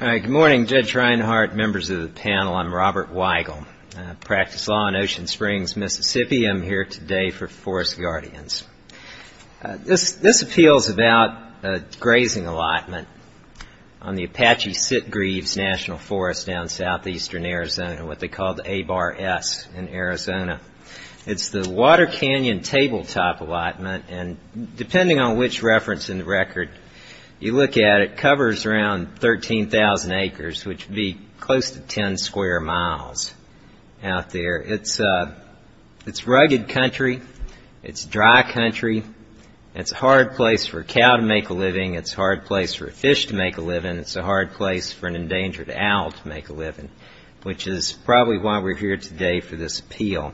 Good morning, Judge Reinhardt, members of the panel. I'm Robert Weigel. I practice law in Ocean Springs, Mississippi. I'm here today for Forest Guardians. This appeals about a grazing allotment on the Apache-Sitgreaves National Forest down in southeastern Arizona, what they call the A-Bar-S in Arizona. It's the Water Canyon tabletop allotment, and depending on which reference in the record you look at, it covers around 13,000 acres, which would be close to 10 square miles out there. It's rugged country. It's dry country. It's a hard place for a cow to make a living. It's a hard place for a fish to make a living. It's a hard place for an endangered owl to make a living, which is probably why we're here today for this appeal.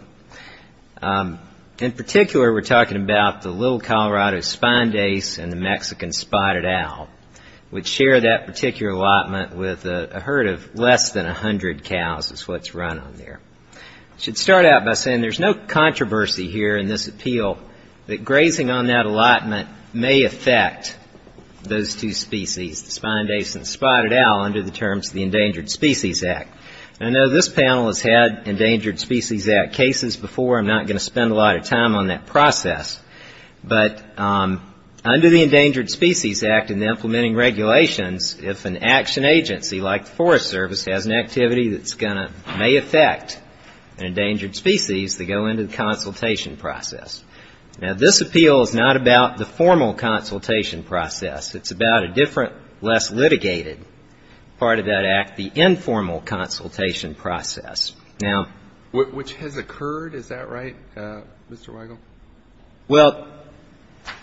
In particular, we're talking about the Little Colorado Spined Ace and the Mexican Spotted Owl, which share that particular allotment with a herd of less than 100 cows is what's run on there. I should start out by saying there's no controversy here in this appeal that grazing on that allotment may affect those two species, the Spined Ace and the Spotted Owl, under the terms of the Endangered Species Act. I know this panel has had Endangered Species Act cases before. I'm not going to spend a lot of time on that process. But under the Endangered Species Act and the implementing regulations, if an action agency like the Forest Service has an activity that's going to may affect an endangered species, they go into the consultation process. Now, this appeal is not about the formal consultation process. It's about a different, less litigated part of that act, the informal consultation process. Which has occurred, is that right, Mr. Weigel? Well,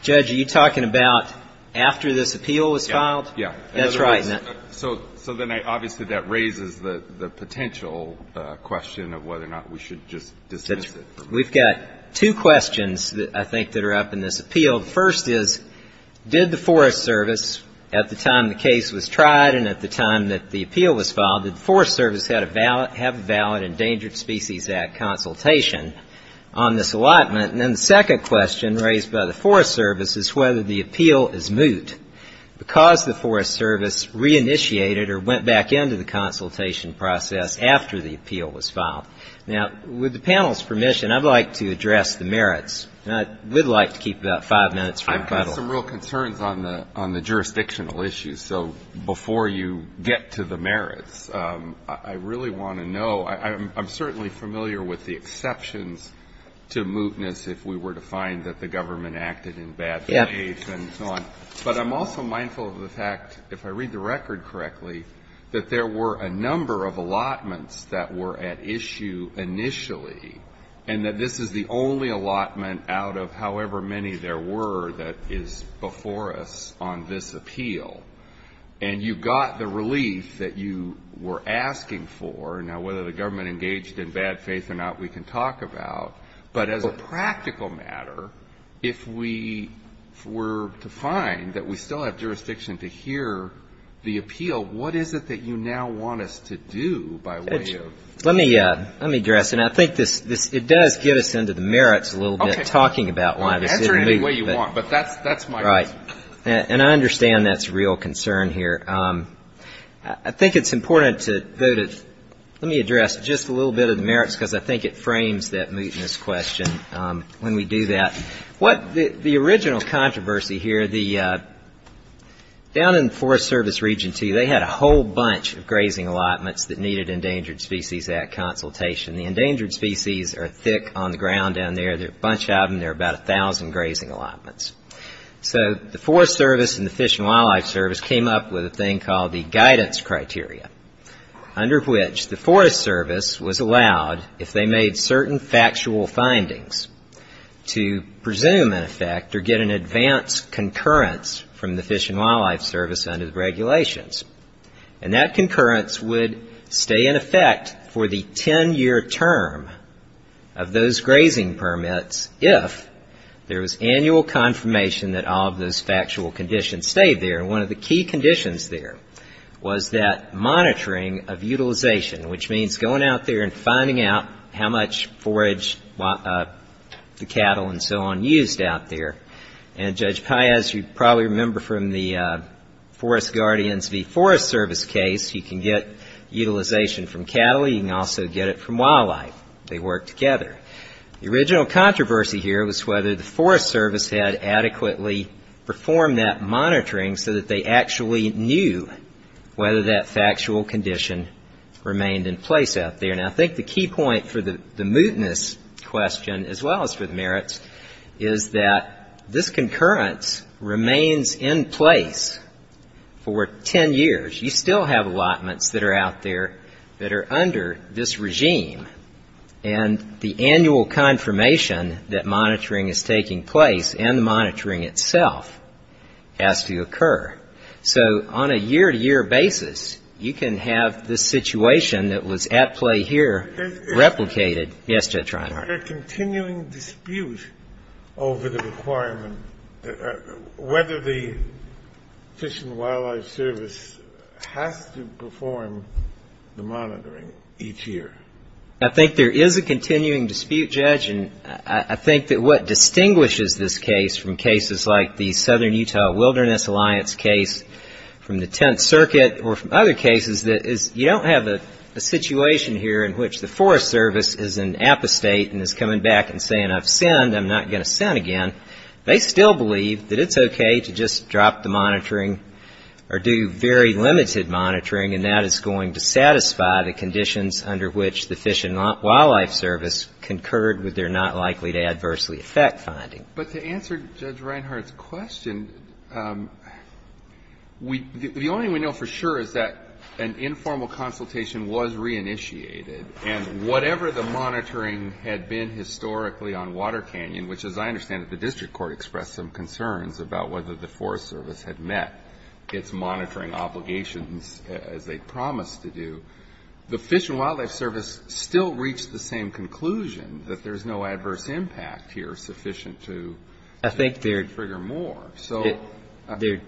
Judge, are you talking about after this appeal was filed? Yeah. That's right. So then obviously that raises the potential question of whether or not we should just dismiss it. We've got two questions, I think, that are up in this appeal. The first is, did the Forest Service, at the time the case was tried and at the time that the appeal was filed, did the Forest Service have a valid Endangered Species Act consultation on this allotment? And then the second question raised by the Forest Service is whether the appeal is moot, because the Forest Service re-initiated or went back into the consultation process after the appeal was filed. Now, with the panel's permission, I'd like to address the merits, and I would like to keep about five minutes for a cuddle. I've got some real concerns on the jurisdictional issues. So before you get to the merits, I really want to know, I'm certainly familiar with the exceptions to mootness if we were to find that the government acted in bad ways and so on. But I'm also mindful of the fact, if I read the record correctly, that there were a number of allotments that were at issue initially, and that this is the only allotment out of however many there were that is before us on this appeal. And you got the relief that you were asking for. Now, whether the government engaged in bad faith or not, we can talk about. But if we find that we still have jurisdiction to hear the appeal, what is it that you now want us to do by way of ---- Let me address. And I think it does get us into the merits a little bit, talking about why this is moot. But that's my question. Right. And I understand that's a real concern here. I think it's important to go to ---- let me address just a little bit of the merits, because I think it frames that mootness question when we do that. The original controversy here, down in the Forest Service Region 2, they had a whole bunch of grazing allotments that needed Endangered Species Act consultation. The endangered species are thick on the ground down there. There are a bunch of them. There are about 1,000 grazing allotments. So the Forest Service and the Fish and Wildlife Service came up with a thing called the Guidance Criteria, under which the Forest Service was allowed, if they made certain factual findings, to be able to make a decision. To presume, in effect, or get an advance concurrence from the Fish and Wildlife Service under the regulations. And that concurrence would stay in effect for the 10-year term of those grazing permits if there was annual confirmation that all of those factual conditions stayed there. And one of the key conditions there was that monitoring of utilization, which means going out there and finding out how much forage, the cattle and so on, used out there. And Judge Paez, you probably remember from the Forest Guardians v. Forest Service case, you can get utilization from cattle. You can also get it from wildlife. They work together. The original controversy here was whether the Forest Service had adequately performed that monitoring so that they actually knew whether that factual condition remained in place out there. And I think the key point for the mootness question, as well as for the merits, is that this concurrence remains in place for 10 years. You still have allotments that are out there that are under this regime. And the annual confirmation that monitoring is taking place and the monitoring itself has to occur. So on a year-to-year basis, you can have this situation that was at play here replicated. Yes, Judge Reinhart. Is there a continuing dispute over the requirement, whether the Fish and Wildlife Service has to perform the monitoring each year? I think there is a continuing dispute, Judge. And I think that what distinguishes this case from cases like the Southern Utah Wilderness Alliance case, from the Tenth Circuit, or from other cases, is you don't have a situation here in which the Forest Service is in apostate and is coming back and saying, I've sinned, I'm not going to sin again. They still believe that it's okay to just drop the monitoring or do very limited monitoring, and that is going to satisfy the conditions under which the Fish and Wildlife Service concurred with their not-likely-to-adversely-effect finding. But to answer Judge Reinhart's question, the only thing we know for sure is that an informal consultation was reinitiated. And whatever the monitoring had been historically on Water Canyon, which, as I understand it, the district court expressed some concerns about whether the Forest Service had met its monitoring obligations as they promised to do, the Fish and Wildlife Service still reached the same conclusion, that there's no adverse impact here sufficient to trigger more. So to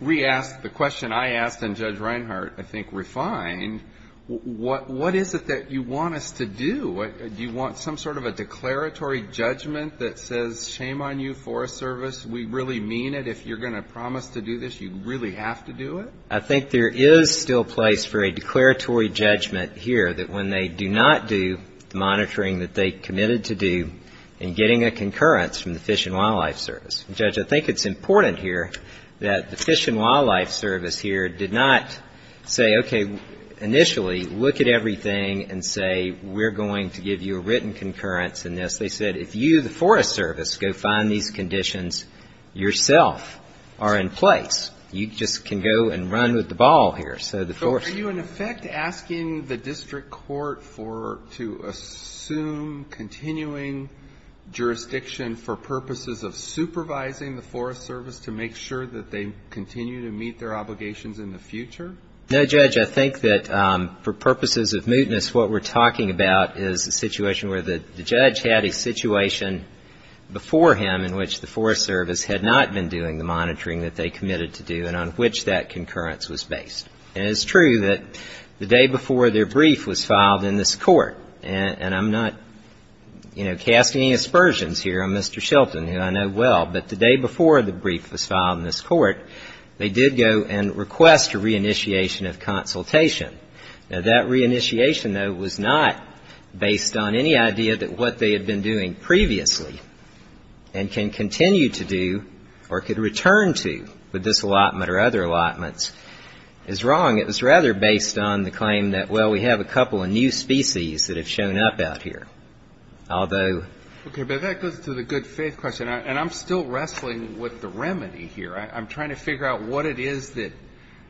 re-ask the question I asked and Judge Reinhart, I think, refined, what is it that you want us to do? Do you want some sort of a declaratory judgment that says, shame on you, Forest Service, we really mean it. If you're going to promise to do this, you really have to do it? I think there is still place for a declaratory judgment here that when they do not do the monitoring that they committed to do in getting a concurrence from the Fish and Wildlife Service. And, Judge, I think it's important here that the Fish and Wildlife Service here did not say, okay, initially, look at everything and say, we're going to give you a written concurrence in this. They said, if you, the Forest Service, go find these conditions yourself, are in place. You just can go and run with the ball here. So are you, in effect, asking the district court to assume continuing jurisdiction for purposes of supervising the Forest Service to make sure that they continue to meet their obligations in the future? No, Judge. I think that for purposes of mootness, what we're talking about is a situation where the judge had a situation before him in which the concurrence was based. And it's true that the day before their brief was filed in this court, and I'm not, you know, casting aspersions here on Mr. Shelton, who I know well, but the day before the brief was filed in this court, they did go and request a re-initiation of consultation. Now, that re-initiation, though, was not based on any idea that what they had been doing previously and can continue to do or could return to with this allotment or other allotments is wrong. It was rather based on the claim that, well, we have a couple of new species that have shown up out here, although. Okay, but that goes to the good faith question, and I'm still wrestling with the remedy here. I'm trying to figure out what it is that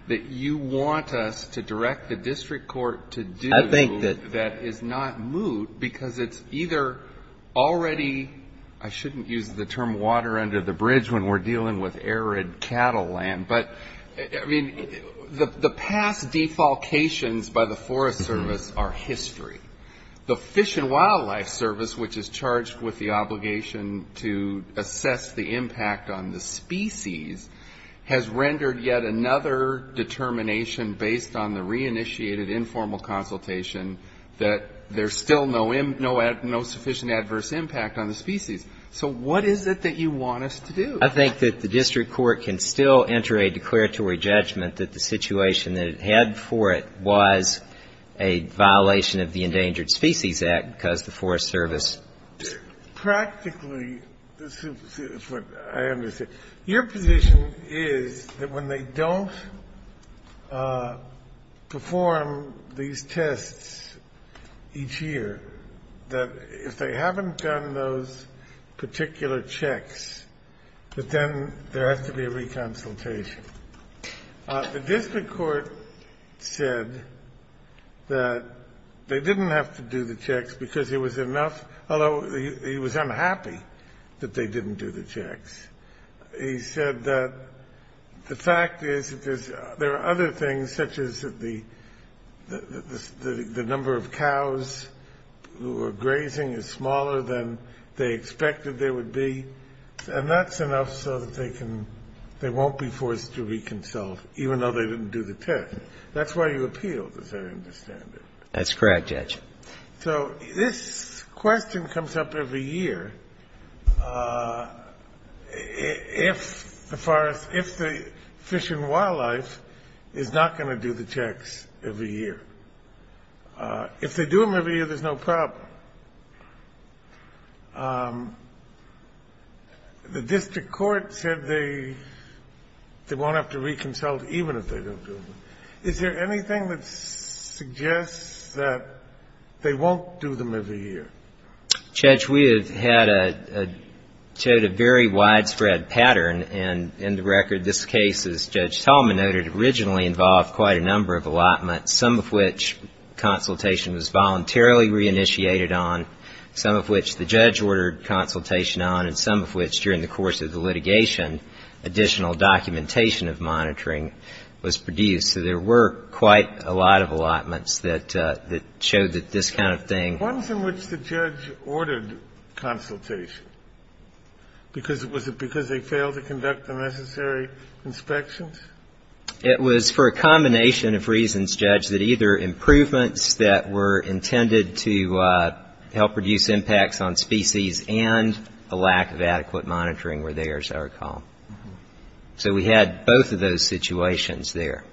you want us to direct the district court to do that is not moot because it's either already, I shouldn't use the term water under the bridge when we're dealing with arid cattle land. But, I mean, the past defalcations by the Forest Service are history. The Fish and Wildlife Service, which is charged with the obligation to assess the impact on the species, has rendered yet another determination based on the re-initiated informal consultation that there's still no sufficient adverse impact on the species. So what is it that you want us to do? I think that the district court can still enter a declaratory judgment that the situation that it had for it was a violation of the Endangered Species Act because the Forest Service. Practically, this is what I understand. Your position is that when they don't perform these tests each year, that if they haven't done those particular checks, that then there has to be a reconsultation. The district court said that they didn't have to do the checks because it was enough, although he was unhappy that they didn't do the checks. He said that the fact is that there are other things, such as the number of cows who are grazing is smaller than they expected there would be, and that's enough so that they can they won't be forced to reconsult, even though they didn't do the test. That's why you appealed, as I understand it. That's correct, Judge. So this question comes up every year if the forest, if the fish and wildlife is not going to do the checks every year. If they do them every year, there's no problem. The district court said they won't have to reconsult even if they don't do them. Is there anything that suggests that they won't do them every year? Judge, we have had a very widespread pattern. And in the record, this case, as Judge Tallman noted, originally involved quite a number of allotments, some of which consultation was voluntarily reinitiated on, some of which the judge ordered consultation on, and some of which, during the course of the litigation, additional documentation of monitoring was produced. So there were quite a lot of allotments that showed that this kind of thing. The ones in which the judge ordered consultation, was it because they failed to conduct the necessary inspections? It was for a combination of reasons, Judge, that either improvements that were intended to help reduce impacts on species and a lack of adequate monitoring were theirs, I recall. So we had both of those situations there.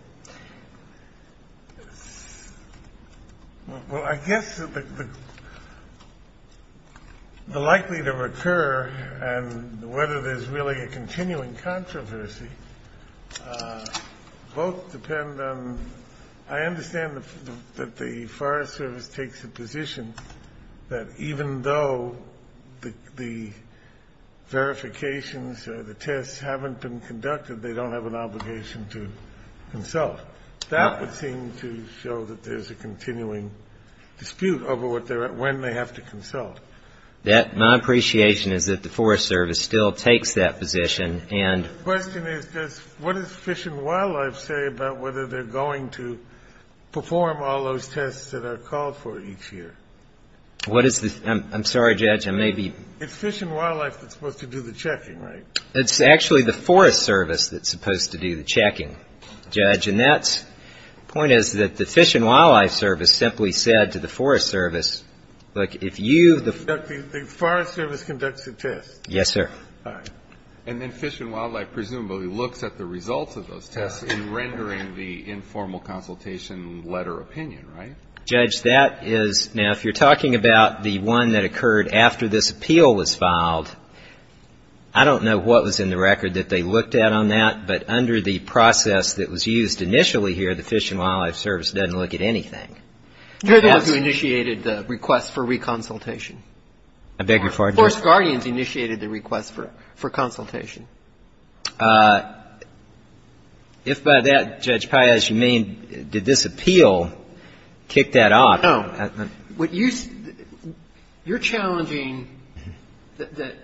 Well, I guess the likely to recur and whether there's really a continuing controversy both depend on, I understand that the Forest Service takes a position that even though the verifications or the tests haven't been conducted, they don't have an obligation to consult. That would seem to show that there's a continuing dispute over when they have to consult. My appreciation is that the Forest Service still takes that position. The question is, what does Fish and Wildlife say about whether they're going to perform all those tests that are called for each year? I'm sorry, Judge. It's Fish and Wildlife that's supposed to do the checking, right? It's actually the Forest Service that's supposed to do the checking, Judge. And that's the point is that the Fish and Wildlife Service simply said to the Forest Service, look, if you the The Forest Service conducts the tests. Yes, sir. All right. And then Fish and Wildlife presumably looks at the results of those tests in rendering the informal consultation letter opinion, right? Judge, that is, now, if you're talking about the one that occurred after this appeal was filed, I don't know what was in the record that they looked at on that, but under the process that was used initially here, the Fish and Wildlife Service doesn't look at anything. They're the ones who initiated the request for reconsultation. I beg your pardon? Forest Guardians initiated the request for consultation. If by that, Judge Pai, as you mean, did this appeal kick that off? No. You're challenging the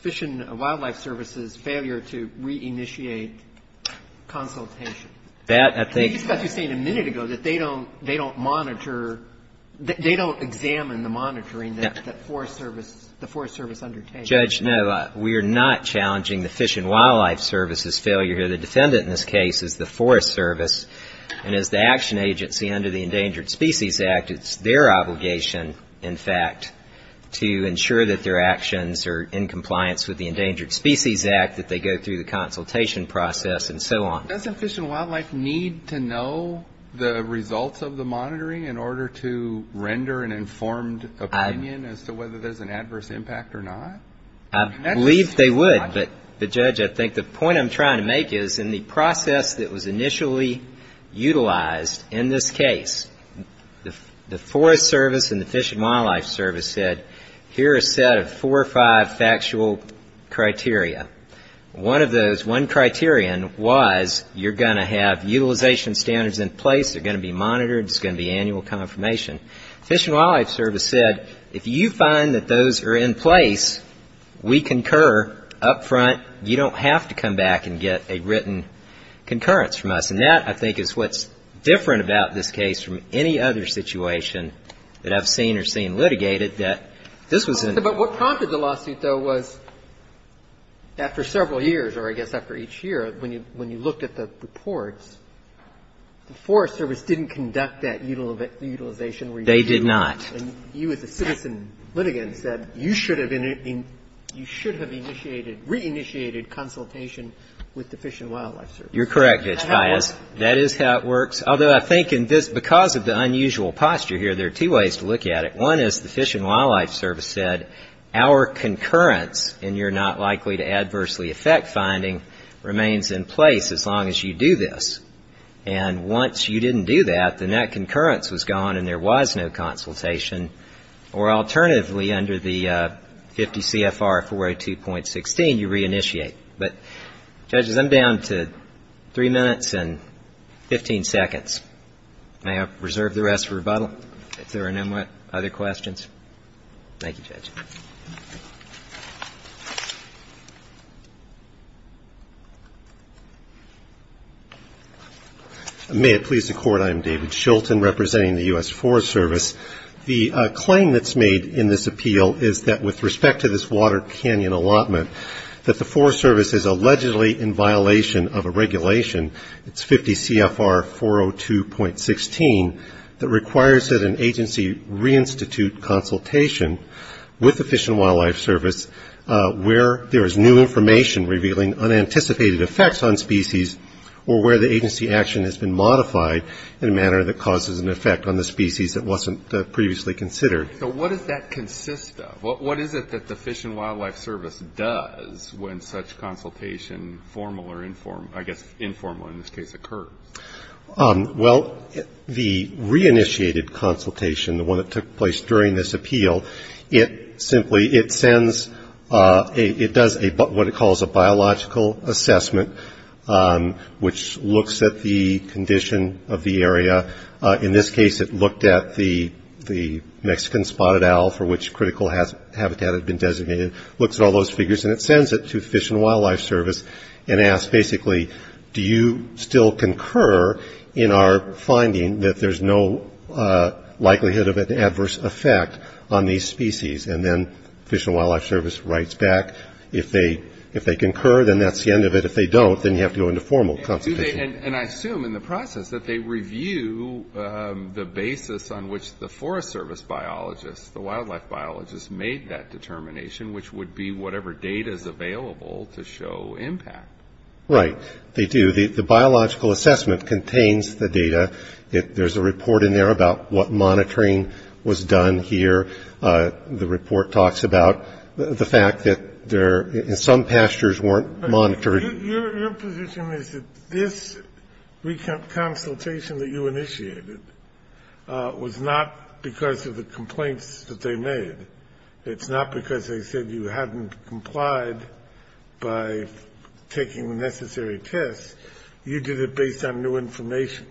Fish and Wildlife Service's failure to reinitiate consultation. That, I think That's what you were saying a minute ago, that they don't monitor, they don't examine the monitoring that the Forest Service undertakes. Judge, no. We are not challenging the Fish and Wildlife Service's failure. The defendant in this case is the Forest Service, and as the action agency under the Endangered Species Act, it's their obligation, in fact, to ensure that their actions are in compliance with the Endangered Species Act, that they go through the consultation process, and so on. Doesn't Fish and Wildlife need to know the results of the monitoring in order to render an informed opinion as to whether there's an adverse impact or not? I believe they would, but, Judge, I think the point I'm trying to make is in the process that was initially utilized in this case, the Forest Service and the Fish and Wildlife Service said, here are a set of four or five factual criteria. One of those, one criterion was you're going to have utilization standards in place, they're going to be monitored, there's going to be annual confirmation. Fish and Wildlife Service said, if you find that those are in place, we concur up front, you don't have to come back and get a written concurrence from us. And that, I think, is what's different about this case from any other situation that I've seen or seen litigated, that this was in the... But what prompted the lawsuit, though, was after several years, or I guess after each year, when you looked at the reports, the Forest Service didn't conduct that utilization review. They did not. And you, as a citizen litigant, said you should have initiated, re-initiated consultation with the Fish and Wildlife Service. You're correct, Judge Pius. That is how it works. Although I think in this, because of the unusual posture here, there are two ways to look at it. One is the Fish and Wildlife Service said, our concurrence, and you're not likely to adversely affect finding, remains in place as long as you do this. And once you didn't do that, then that concurrence was gone and there was no consultation. Or alternatively, under the 50 CFR 402.16, you re-initiate. But, judges, I'm down to three minutes and 15 seconds. May I reserve the rest for rebuttal, if there are no other questions? Thank you, Judge. May it please the Court. I am David Shilton, representing the U.S. Forest Service. The claim that's made in this appeal is that with respect to this Water Canyon allotment, that the Forest Service is allegedly in violation of a regulation, it's 50 CFR 402.16, that requires that an agency re-institute consultation with the Fish and Wildlife Service where there is new information revealing unanticipated effects on species or where the agency action has been modified in a manner that causes an effect on the species that wasn't previously considered. So what does that consist of? What is it that the Fish and Wildlife Service does when such consultation, formal or informal, I guess informal in this case, occurs? Well, the re-initiated consultation, the one that took place during this appeal, it simply, it sends, it does what it calls a biological assessment, which looks at the condition of the area. In this case, it looked at the Mexican spotted owl for which critical habitat had been designated, looks at all those figures, and it sends it to the Fish and Wildlife Service and asks, basically, do you still concur in our finding that there's no likelihood of an adverse effect on these species? And then Fish and Wildlife Service writes back, if they concur, then that's the end of it. If they don't, then you have to go into formal consultation. And I assume in the process that they review the basis on which the Forest Service biologists, the wildlife biologists, made that determination, which would be whatever data is available to show impact. Right. They do. The biological assessment contains the data. There's a report in there about what monitoring was done here. The report talks about the fact that some pastures weren't monitored. Your position is that this consultation that you initiated was not because of the complaints that they made. It's not because they said you hadn't complied by taking the necessary tests. You did it based on new information.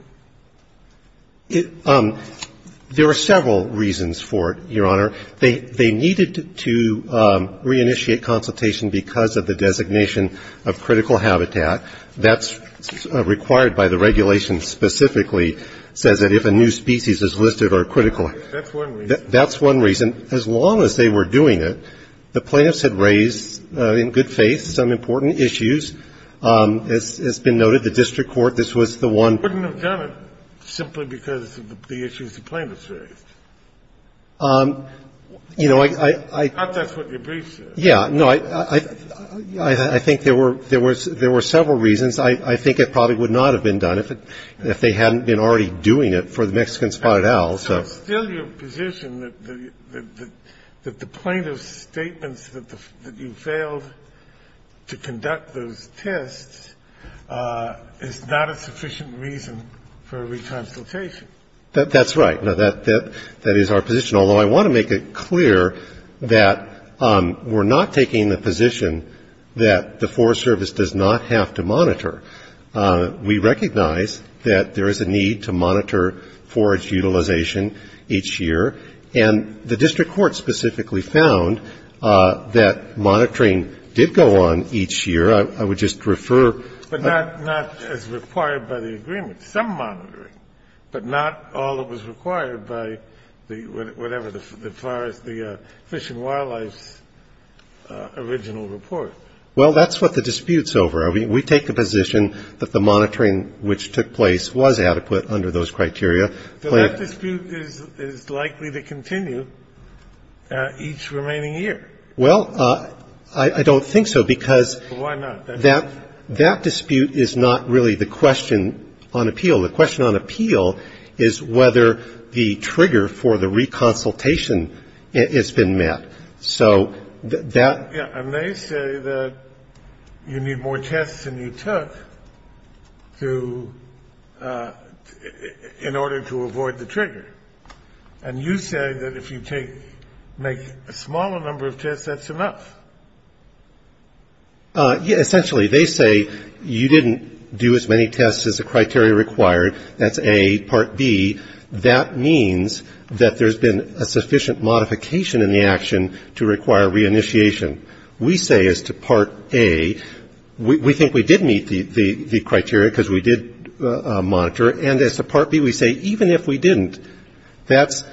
There are several reasons for it, Your Honor. They needed to reinitiate consultation because of the designation of critical habitat. That's required by the regulation specifically, says that if a new species is listed or critical. That's one reason. That's one reason. As long as they were doing it, the plaintiffs had raised, in good faith, some important issues. As has been noted, the district court, this was the one. They wouldn't have done it simply because of the issues the plaintiffs raised. You know, I. I thought that's what your brief said. Yeah. No, I think there were several reasons. I think it probably would not have been done if they hadn't been already doing it for the Mexican spotted owl. So still your position that the plaintiff's statements that you failed to conduct those tests is not a sufficient reason for a re-consultation. That's right. Now, that is our position, although I want to make it clear that we're not taking the position that the Forest Service does not have to monitor. We recognize that there is a need to monitor forage utilization each year, and the district court specifically found that monitoring did go on each year. I would just refer. But not as required by the agreement. Some monitoring, but not all that was required by the whatever, the forest, the Fish and Wildlife's original report. Well, that's what the dispute's over. I mean, we take the position that the monitoring which took place was adequate under those criteria. But that dispute is likely to continue each remaining year. Well, I don't think so, because. Why not? That dispute is not really the question on appeal. The question on appeal is whether the trigger for the re-consultation has been met. So that. And they say that you need more tests than you took to in order to avoid the trigger. And you say that if you take make a smaller number of tests, that's enough. Essentially, they say you didn't do as many tests as the criteria required. That's A. Part B, that means that there's been a sufficient modification in the action to require re-initiation. We say as to Part A, we think we did meet the criteria because we did monitor. And as to Part B, we say even if we didn't, that's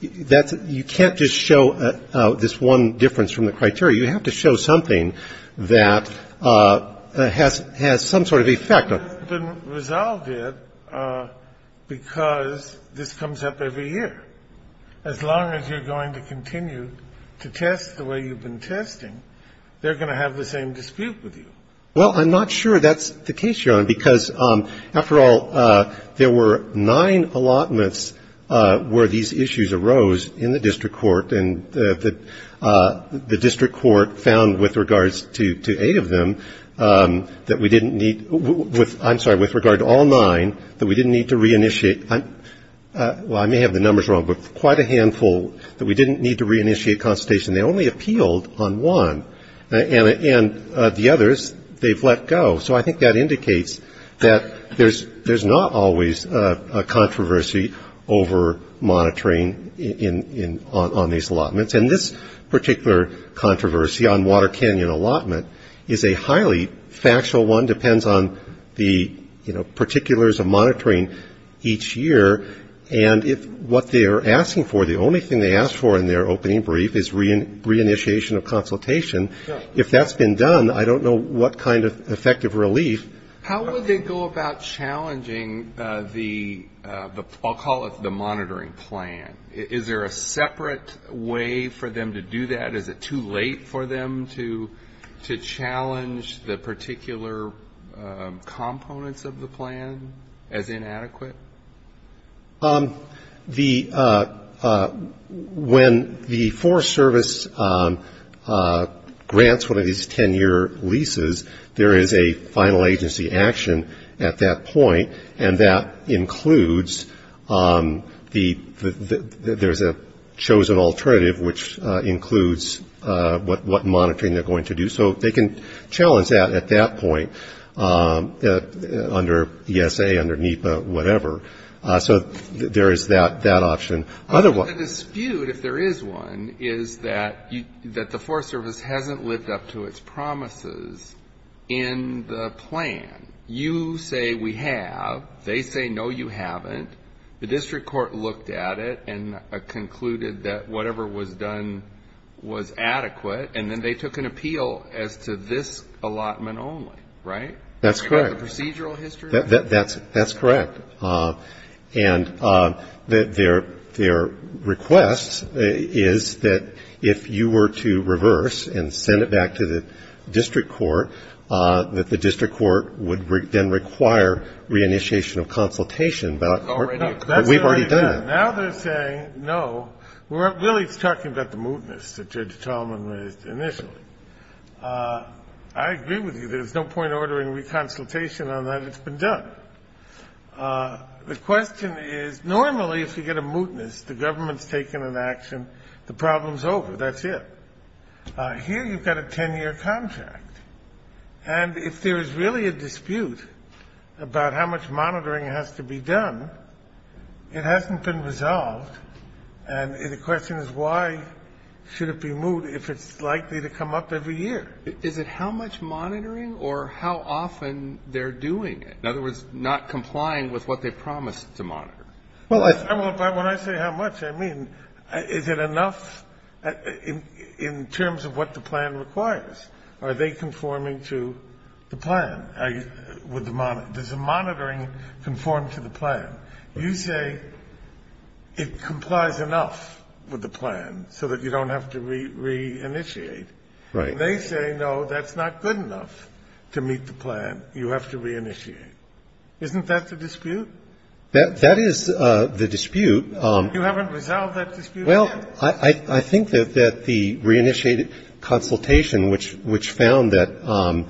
you can't just show this one difference from the criteria. You have to show something that has some sort of effect. It hasn't been resolved yet because this comes up every year. As long as you're going to continue to test the way you've been testing, they're going to have the same dispute with you. Well, I'm not sure that's the case, Your Honor, because, after all, there were nine allotments where these issues arose in the district court. And the district court found, with regards to eight of them, that we didn't need to I'm sorry, with regard to all nine, that we didn't need to re-initiate. Well, I may have the numbers wrong, but quite a handful that we didn't need to re-initiate consultation. They only appealed on one. And the others, they've let go. So I think that indicates that there's not always a controversy over monitoring on these allotments. And this particular controversy on Water Canyon allotment is a highly factual one, depends on the particulars of monitoring each year. And if what they are asking for, the only thing they ask for in their opening brief is re-initiation of consultation. If that's been done, I don't know what kind of effective relief. How would they go about challenging the, I'll call it the monitoring plan? Is there a separate way for them to do that? Is it too late for them to challenge the particular components of the plan as inadequate? The, when the Forest Service grants one of these 10-year leases, there is a final agency action at that point, and that includes the, there's a chosen alternative, which includes what monitoring they're going to do. So they can challenge that at that point under ESA, under NEPA, whatever. So there is that option. The dispute, if there is one, is that the Forest Service hasn't lived up to its promises in the plan. You say we have. They say, no, you haven't. The district court looked at it and concluded that whatever was done was adequate. And then they took an appeal as to this allotment only, right? That's correct. The procedural history? That's correct. And their request is that if you were to reverse and send it back to the district court, that the district court would then require re-initiation of consultation. But we've already done that. Now they're saying, no, we're really talking about the mootness that Judge Talman raised initially. I agree with you. There's no point ordering re-consultation on that. It's been done. The question is, normally if you get a mootness, the government's taken an action, the problem's over, that's it. Here you've got a 10-year contract. And if there is really a dispute about how much monitoring has to be done, it hasn't been resolved. And the question is, why should it be moot if it's likely to come up every year? Is it how much monitoring or how often they're doing it? In other words, not complying with what they promised to monitor. Well, when I say how much, I mean is it enough in terms of what the plan requires? Are they conforming to the plan? Does the monitoring conform to the plan? You say it complies enough with the plan so that you don't have to re-initiate. Right. They say, no, that's not good enough to meet the plan. You have to re-initiate. Isn't that the dispute? That is the dispute. You haven't resolved that dispute yet. Well, I think that the re-initiated consultation, which found that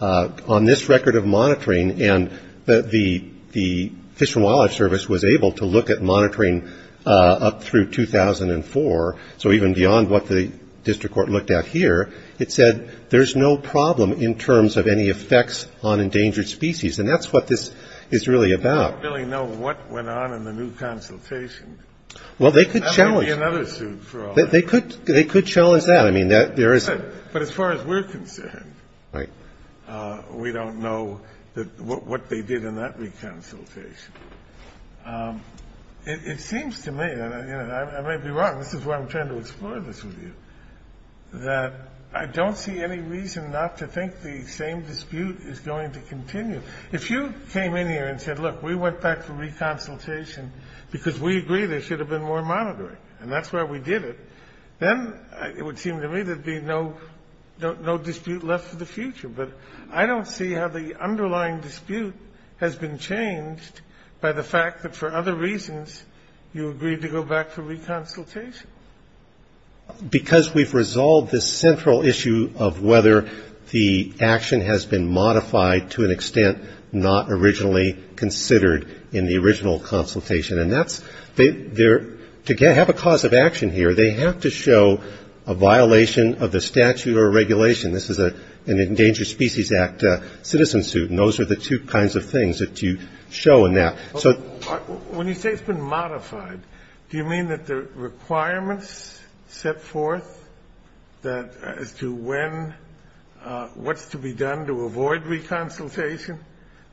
on this record of monitoring, and the Fish and Wildlife Service was able to look at monitoring up through 2004, so even beyond what the district court looked at here, it said there's no problem in terms of any effects on endangered species. And that's what this is really about. I don't really know what went on in the new consultation. Well, they could challenge that. They could challenge that. But as far as we're concerned, we don't know what they did in that re-consultation. It seems to me, and I may be wrong, this is why I'm trying to explore this with you, that I don't see any reason not to think the same dispute is going to continue. If you came in here and said, look, we went back to re-consultation because we agree there should have been more monitoring, and that's why we did it, then it would seem to me there would be no dispute left for the future. But I don't see how the underlying dispute has been changed by the fact that, for other reasons, you agreed to go back to re-consultation. Because we've resolved this central issue of whether the action has been modified to an extent not originally considered in the original consultation. And to have a cause of action here, they have to show a violation of the statute or regulation. This is an Endangered Species Act citizen suit. And those are the two kinds of things that you show in that. When you say it's been modified, do you mean that the requirements set forth as to what's to be done to avoid re-consultation,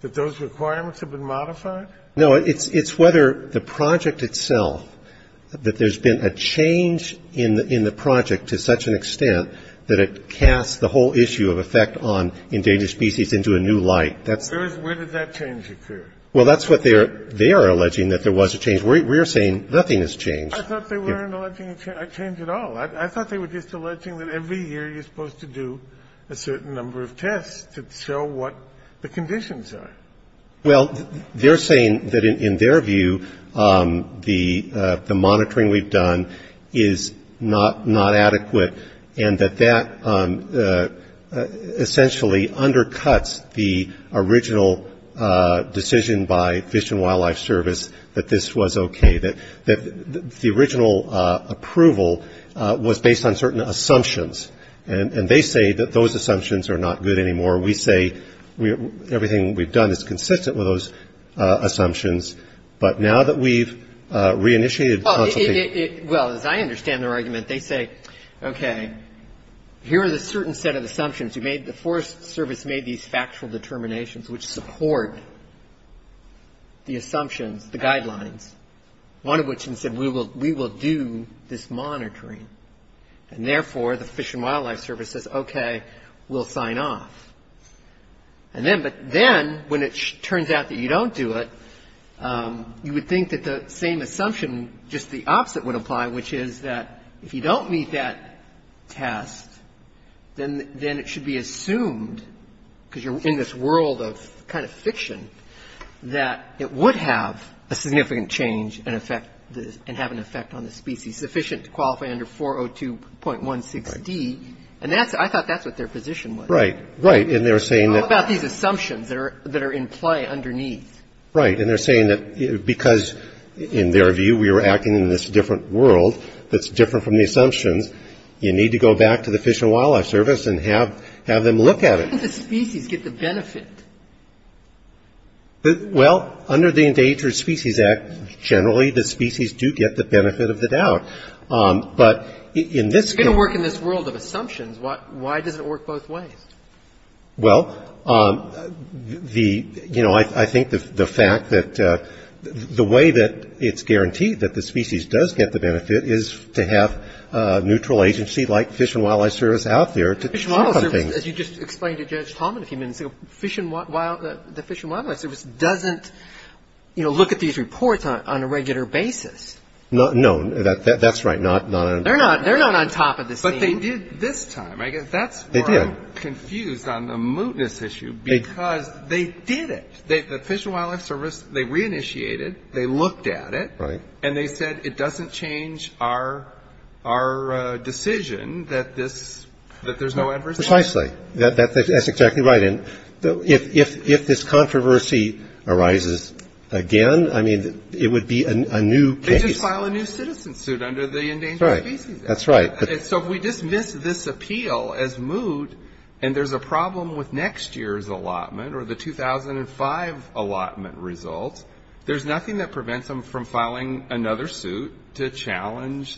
that those requirements have been modified? No, it's whether the project itself, that there's been a change in the project to such an extent that it casts the whole issue of effect on endangered species into a new light. Where did that change occur? Well, that's what they are alleging, that there was a change. We're saying nothing has changed. I thought they weren't alleging a change at all. I thought they were just alleging that every year you're supposed to do a certain number of tests to show what the conditions are. Well, they're saying that, in their view, the monitoring we've done is not adequate and that that essentially undercuts the original decision by Fish and Wildlife Service that this was okay, that the original approval was based on certain assumptions. And they say that those assumptions are not good anymore. We say everything we've done is consistent with those assumptions. But now that we've re-initiated consultation. Well, as I understand their argument, they say, okay, here are the certain set of assumptions. The Forest Service made these factual determinations which support the assumptions, the guidelines, one of which is that we will do this monitoring. And, therefore, the Fish and Wildlife Service says, okay, we'll sign off. But then, when it turns out that you don't do it, you would think that the same assumption, just the opposite would apply, which is that if you don't meet that test, then it should be assumed, because you're in this world of kind of fiction, that it would have a significant change and have an effect on the species sufficient to qualify under 402.16d. And I thought that's what their position was. Right. Right. And they're saying that. How about these assumptions that are in play underneath? Right. And they're saying that because, in their view, we were acting in this different world that's different from the assumptions, you need to go back to the Fish and Wildlife Service and have them look at it. How did the species get the benefit? Well, under the Endangered Species Act, generally the species do get the benefit of the doubt. But in this case. If it's going to work in this world of assumptions, why does it work both ways? Well, the, you know, I think the fact that the way that it's guaranteed that the species does get the benefit is to have a neutral agency like Fish and Wildlife Service out there to check on things. Fish and Wildlife Service, as you just explained to Judge Tallman a few minutes ago, the Fish and Wildlife Service doesn't, you know, look at these reports on a regular basis. No. That's right. They're not on top of the scene. But they did this time. They did. They were confused on the mootness issue because they did it. The Fish and Wildlife Service, they re-initiated, they looked at it. Right. And they said it doesn't change our decision that this, that there's no adverse. Precisely. That's exactly right. And if this controversy arises again, I mean, it would be a new case. They just file a new citizen suit under the Endangered Species Act. That's right. So if we dismiss this appeal as moot and there's a problem with next year's allotment or the 2005 allotment result, there's nothing that prevents them from filing another suit to challenge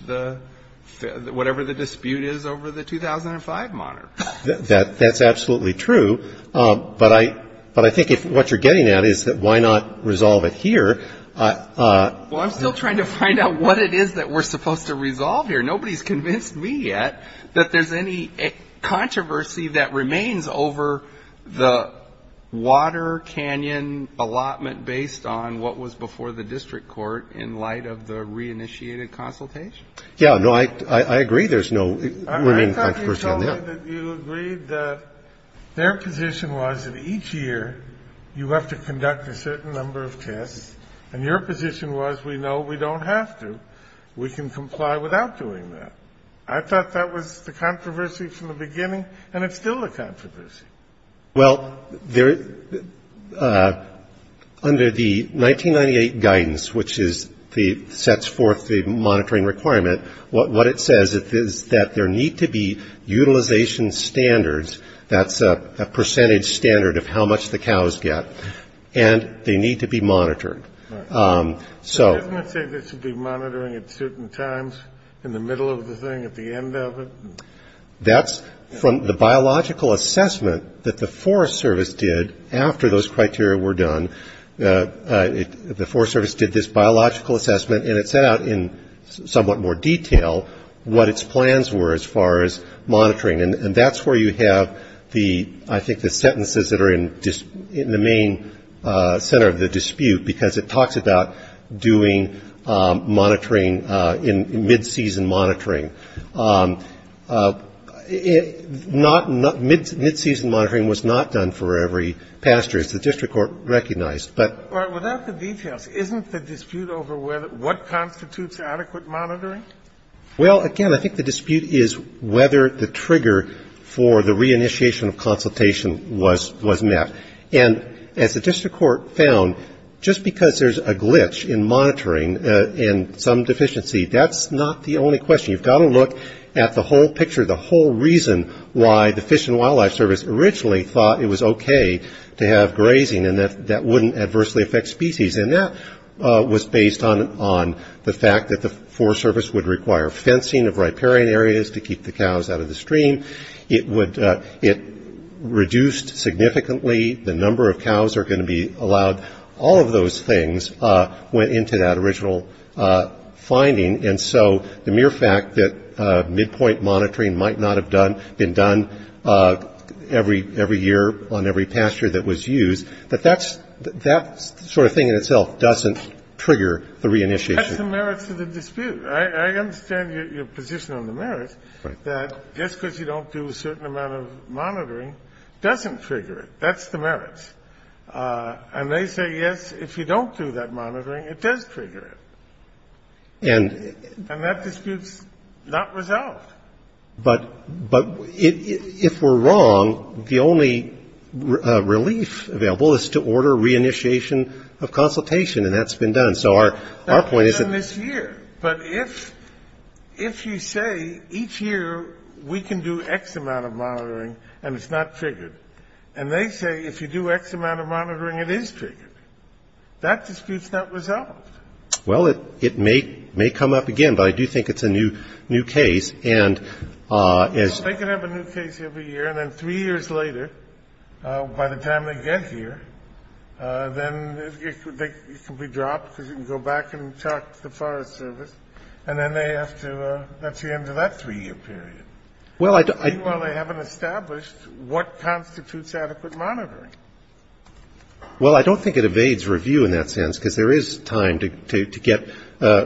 whatever the dispute is over the 2005 monitor. That's absolutely true. But I think what you're getting at is that why not resolve it here. Well, I'm still trying to find out what it is that we're supposed to resolve here. Nobody's convinced me yet that there's any controversy that remains over the Water Canyon allotment based on what was before the district court in light of the re-initiated consultation. Yeah. No, I agree there's no remaining controversy on that. I thought you told me that you agreed that their position was that each year you have to conduct a certain number of tests. And your position was we know we don't have to. We can comply without doing that. I thought that was the controversy from the beginning, and it's still a controversy. Well, under the 1998 guidance, which sets forth the monitoring requirement, what it says is that there need to be utilization standards, that's a percentage standard of how much the cows get, and they need to be monitored. Doesn't it say this will be monitoring at certain times in the middle of the thing, at the end of it? That's from the biological assessment that the Forest Service did after those criteria were done. The Forest Service did this biological assessment, and it set out in somewhat more detail what its plans were as far as monitoring. And that's where you have, I think, the sentences that are in the main center of the dispute, because it talks about doing monitoring in mid-season monitoring. Mid-season monitoring was not done for every pasture, as the district court recognized. But without the details, isn't the dispute over what constitutes adequate monitoring? Well, again, I think the dispute is whether the trigger for the reinitiation of consultation was met. And as the district court found, just because there's a glitch in monitoring and some deficiency, that's not the only question. You've got to look at the whole picture, the whole reason why the Fish and Wildlife Service originally thought it was okay to have grazing and that that wouldn't adversely affect species. And that was based on the fact that the Forest Service would require fencing of riparian areas to keep the cows out of the stream. It reduced significantly the number of cows that are going to be allowed. All of those things went into that original finding. And so the mere fact that midpoint monitoring might not have been done every year on every pasture that was used, that that sort of thing in itself doesn't trigger the reinitiation. That's the merits of the dispute. I understand your position on the merits, that just because you don't do a certain amount of monitoring doesn't trigger it. That's the merits. And they say, yes, if you don't do that monitoring, it does trigger it. And that dispute's not resolved. But if we're wrong, the only relief available is to order reinitiation of consultation, and that's been done. So our point is that this year. But if you say each year we can do X amount of monitoring and it's not triggered, and they say if you do X amount of monitoring it is triggered, that dispute's not resolved. Well, it may come up again, but I do think it's a new case. Well, they can have a new case every year, and then three years later, by the time they get here, then it can be dropped because you can go back and talk to the Forest Service, and then they have to that's the end of that three-year period. Meanwhile, they haven't established what constitutes adequate monitoring. Well, I don't think it evades review in that sense, because there is time to get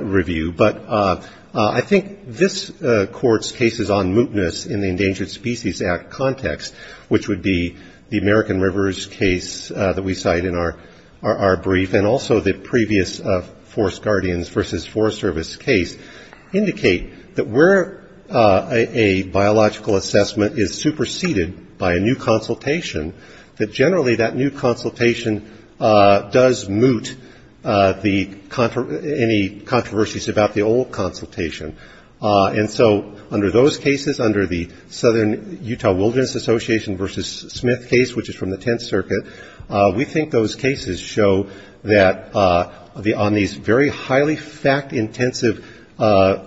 review. But I think this Court's case is on mootness in the Endangered Species Act context, which would be the American Rivers case that we cite in our brief, and also the previous Forest Guardians versus Forest Service case, indicate that where a biological assessment is superseded by a new consultation, that generally that new consultation does moot any controversies about the old consultation. And so under those cases, under the Southern Utah Wilderness Association versus Smith case, which is from the Tenth Circuit, we think those cases show that on these very highly fact-intensive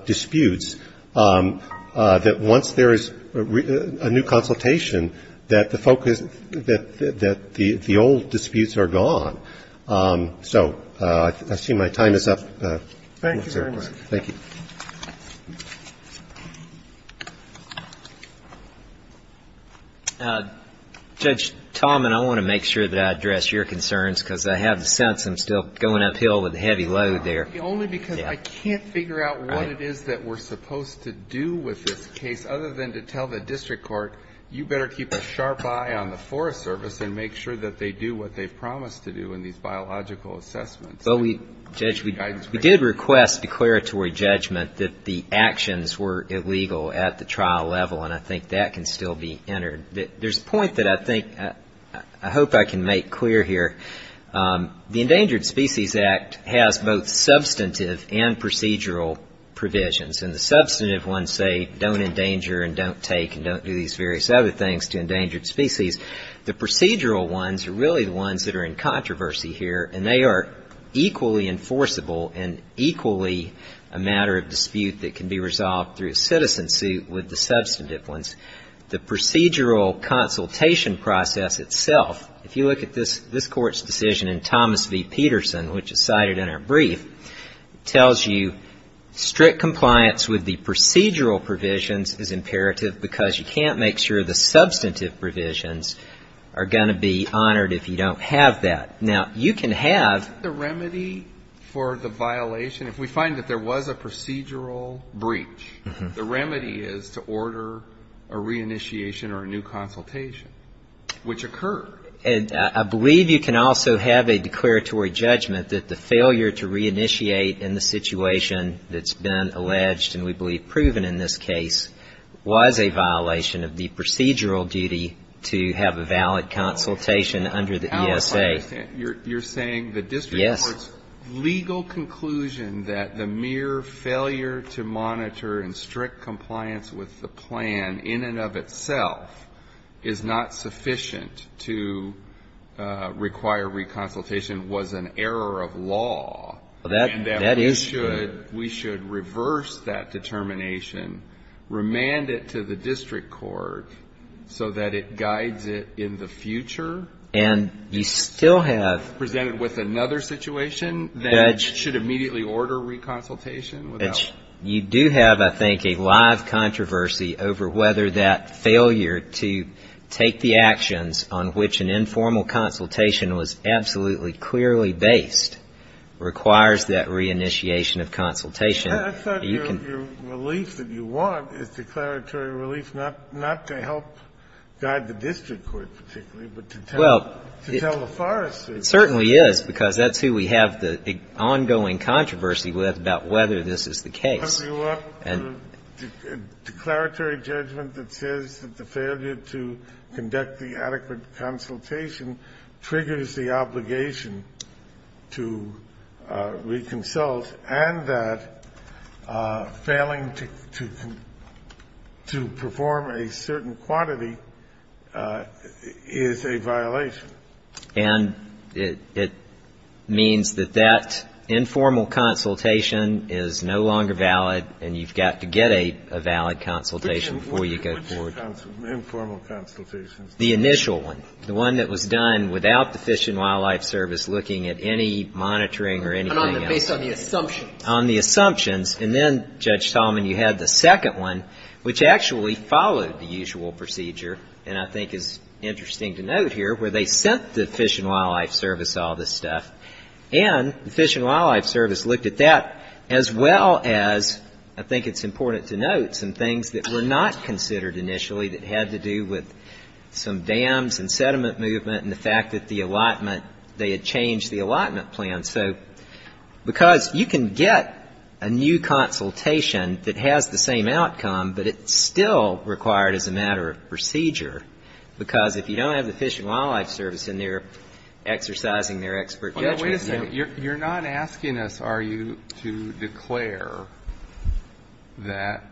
disputes, that once there is a new consultation, that the focus that the old disputes are gone. So I see my time is up. Thank you very much. Thank you. Judge Tallman, I want to make sure that I address your concerns, because I have the sense I'm still going uphill with a heavy load there. Only because I can't figure out what it is that we're supposed to do with this case, other than to tell the district court, you better keep a sharp eye on the Forest Service and make sure that they do what they've promised to do in these biological assessments. Well, Judge, we did request declaratory judgment that the actions were illegal at the trial level, and I think that can still be entered. There's a point that I think I hope I can make clear here. The Endangered Species Act has both substantive and procedural provisions, and the substantive ones say don't endanger and don't take and don't do these various other things to endangered species. The procedural ones are really the ones that are in controversy here, and they are equally enforceable and equally a matter of dispute that can be resolved through a citizen suit with the substantive ones. The procedural consultation process itself, if you look at this court's decision in Thomas v. Peterson, which is cited in our brief, tells you strict compliance with the procedural provisions is imperative because you can't make sure the substantive provisions are going to be honored if you don't have that. Now, you can have Isn't the remedy for the violation, if we find that there was a procedural breach, the remedy is to order a reinitiation or a new consultation, which occurred. And I believe you can also have a declaratory judgment that the failure to reinitiate in the situation that's been alleged and we believe proven in this case was a violation of the procedural duty to have a valid consultation under the ESA. You're saying the district court's legal conclusion that the mere failure to monitor and strict compliance with the plan in and of itself is not sufficient to require reconsultation was an error of law. That is true. And that we should reverse that determination, remand it to the district court so that it guides it in the future? And you still have Presented with another situation that should immediately order reconsultation? You do have, I think, a live controversy over whether that failure to take the actions on which an informal consultation was absolutely clearly based requires that reinitiation of consultation. I thought your relief that you want is declaratory relief not to help guide the district court particularly, but to tell the foresters. Well, it certainly is, because that's who we have the ongoing controversy with about whether this is the case. I grew up with a declaratory judgment that says that the failure to conduct the adequate consultation triggers the obligation to reconsult and that failing to perform a certain quantity is a violation. And it means that that informal consultation is no longer valid and you've got to get a valid consultation before you go forward. Which informal consultations? The initial one. The one that was done without the Fish and Wildlife Service looking at any monitoring or anything else. Based on the assumptions. On the assumptions. And then, Judge Solomon, you had the second one, which actually followed the usual procedure, and I think is interesting to note here, where they sent the Fish and Wildlife Service all this stuff. And the Fish and Wildlife Service looked at that as well as, I think it's important to note, some things that were not considered initially that had to do with some dams and sediment movement and the fact that the allotment, they had changed the allotment plan. So because you can get a new consultation that has the same outcome, but it's still required as a matter of procedure, because if you don't have the Fish and Wildlife Service in there exercising their expert judgment. Wait a second. You're not asking us, are you, to declare that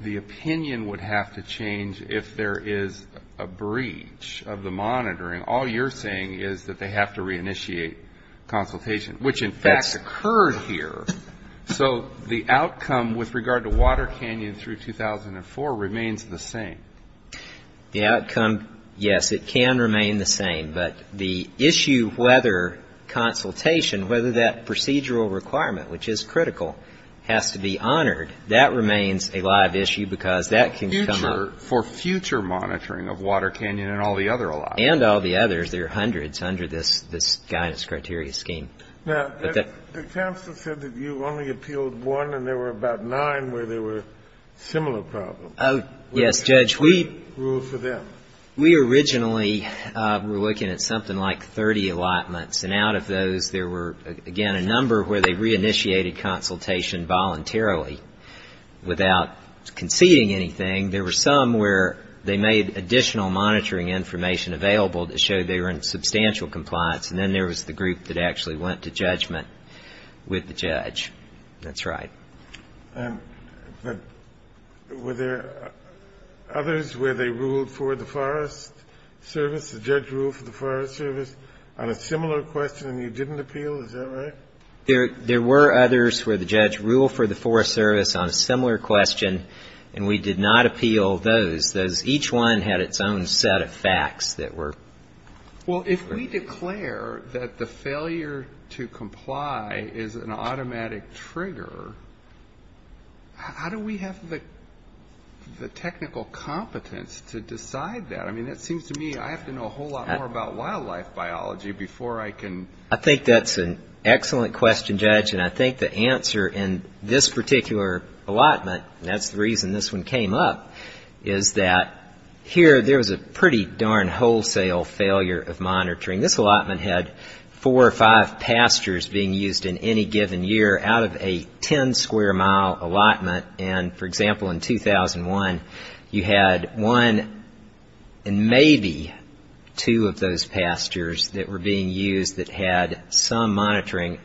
the opinion would have to change if there is a breach of the monitoring. All you're saying is that they have to reinitiate consultation, which in fact occurred here. So the outcome with regard to Water Canyon through 2004 remains the same. The outcome, yes, it can remain the same, but the issue whether consultation, whether that procedural requirement, which is critical, has to be honored, that remains a live issue because that can come up. For future monitoring of Water Canyon and all the other allotments. And all the others, there are hundreds under this guidance criteria scheme. Now, the counsel said that you only appealed one and there were about nine where there were similar problems. Yes, Judge. What is the rule for them? We originally were looking at something like 30 allotments, and out of those there were, again, a number where they reinitiated consultation voluntarily without conceding anything. There were some where they made additional monitoring information available that showed they were in substantial compliance, and then there was the group that actually went to judgment with the judge. That's right. Were there others where they ruled for the Forest Service, the judge ruled for the Forest Service, on a similar question and you didn't appeal? Is that right? There were others where the judge ruled for the Forest Service on a similar question and we did not appeal those. Each one had its own set of facts that were... Well, if we declare that the failure to comply is an automatic trigger, how do we have the technical competence to decide that? I mean, it seems to me I have to know a whole lot more about wildlife biology before I can... I think that's an excellent question, Judge, and I think the answer in this particular allotment, and that's the reason this one came up, is that here there was a pretty darn wholesale failure of monitoring. This allotment had four or five pastures being used in any given year out of a 10-square-mile allotment, and, for example, in 2001 you had one and maybe two of those pastures that were being used that had some monitoring.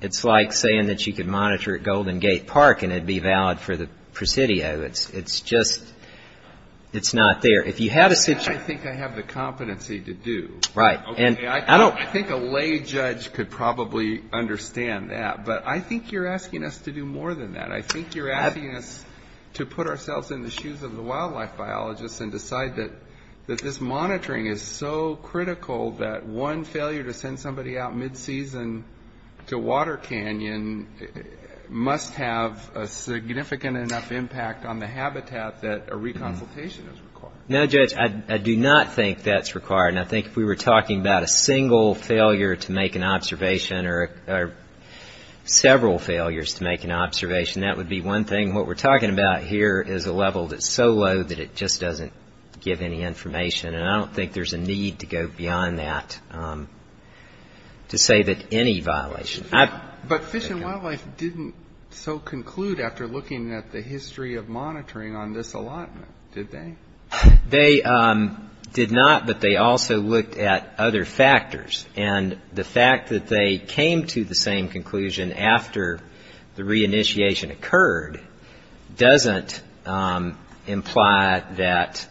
It's like saying that you could monitor at Golden Gate Park and it would be valid for the Presidio. It's just not there. I think I have the competency to do. Right. I think a lay judge could probably understand that, but I think you're asking us to do more than that. I think you're asking us to put ourselves in the shoes of the wildlife biologists and decide that this monitoring is so critical that one failure to send somebody out mid-season to Water Canyon must have a significant enough impact on the habitat that a reconsultation is required. No, Judge, I do not think that's required, and I think if we were talking about a single failure to make an observation or several failures to make an observation, that would be one thing. What we're talking about here is a level that's so low that it just doesn't give any information, and I don't think there's a need to go beyond that to say that any violation. But Fish and Wildlife didn't so conclude after looking at the history of monitoring on this allotment, did they? They did not, but they also looked at other factors, and the fact that they came to the same conclusion after the reinitiation occurred doesn't imply that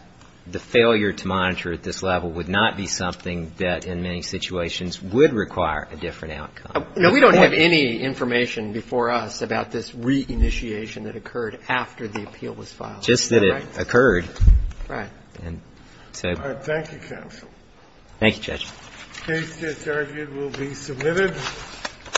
the failure to monitor at this level would not be something that in many situations would require a different outcome. No, we don't have any information before us about this reinitiation that occurred after the appeal was filed. Just that it occurred. Right. And so. All right. Thank you, counsel. Thank you, Judge. The case that's argued will be submitted.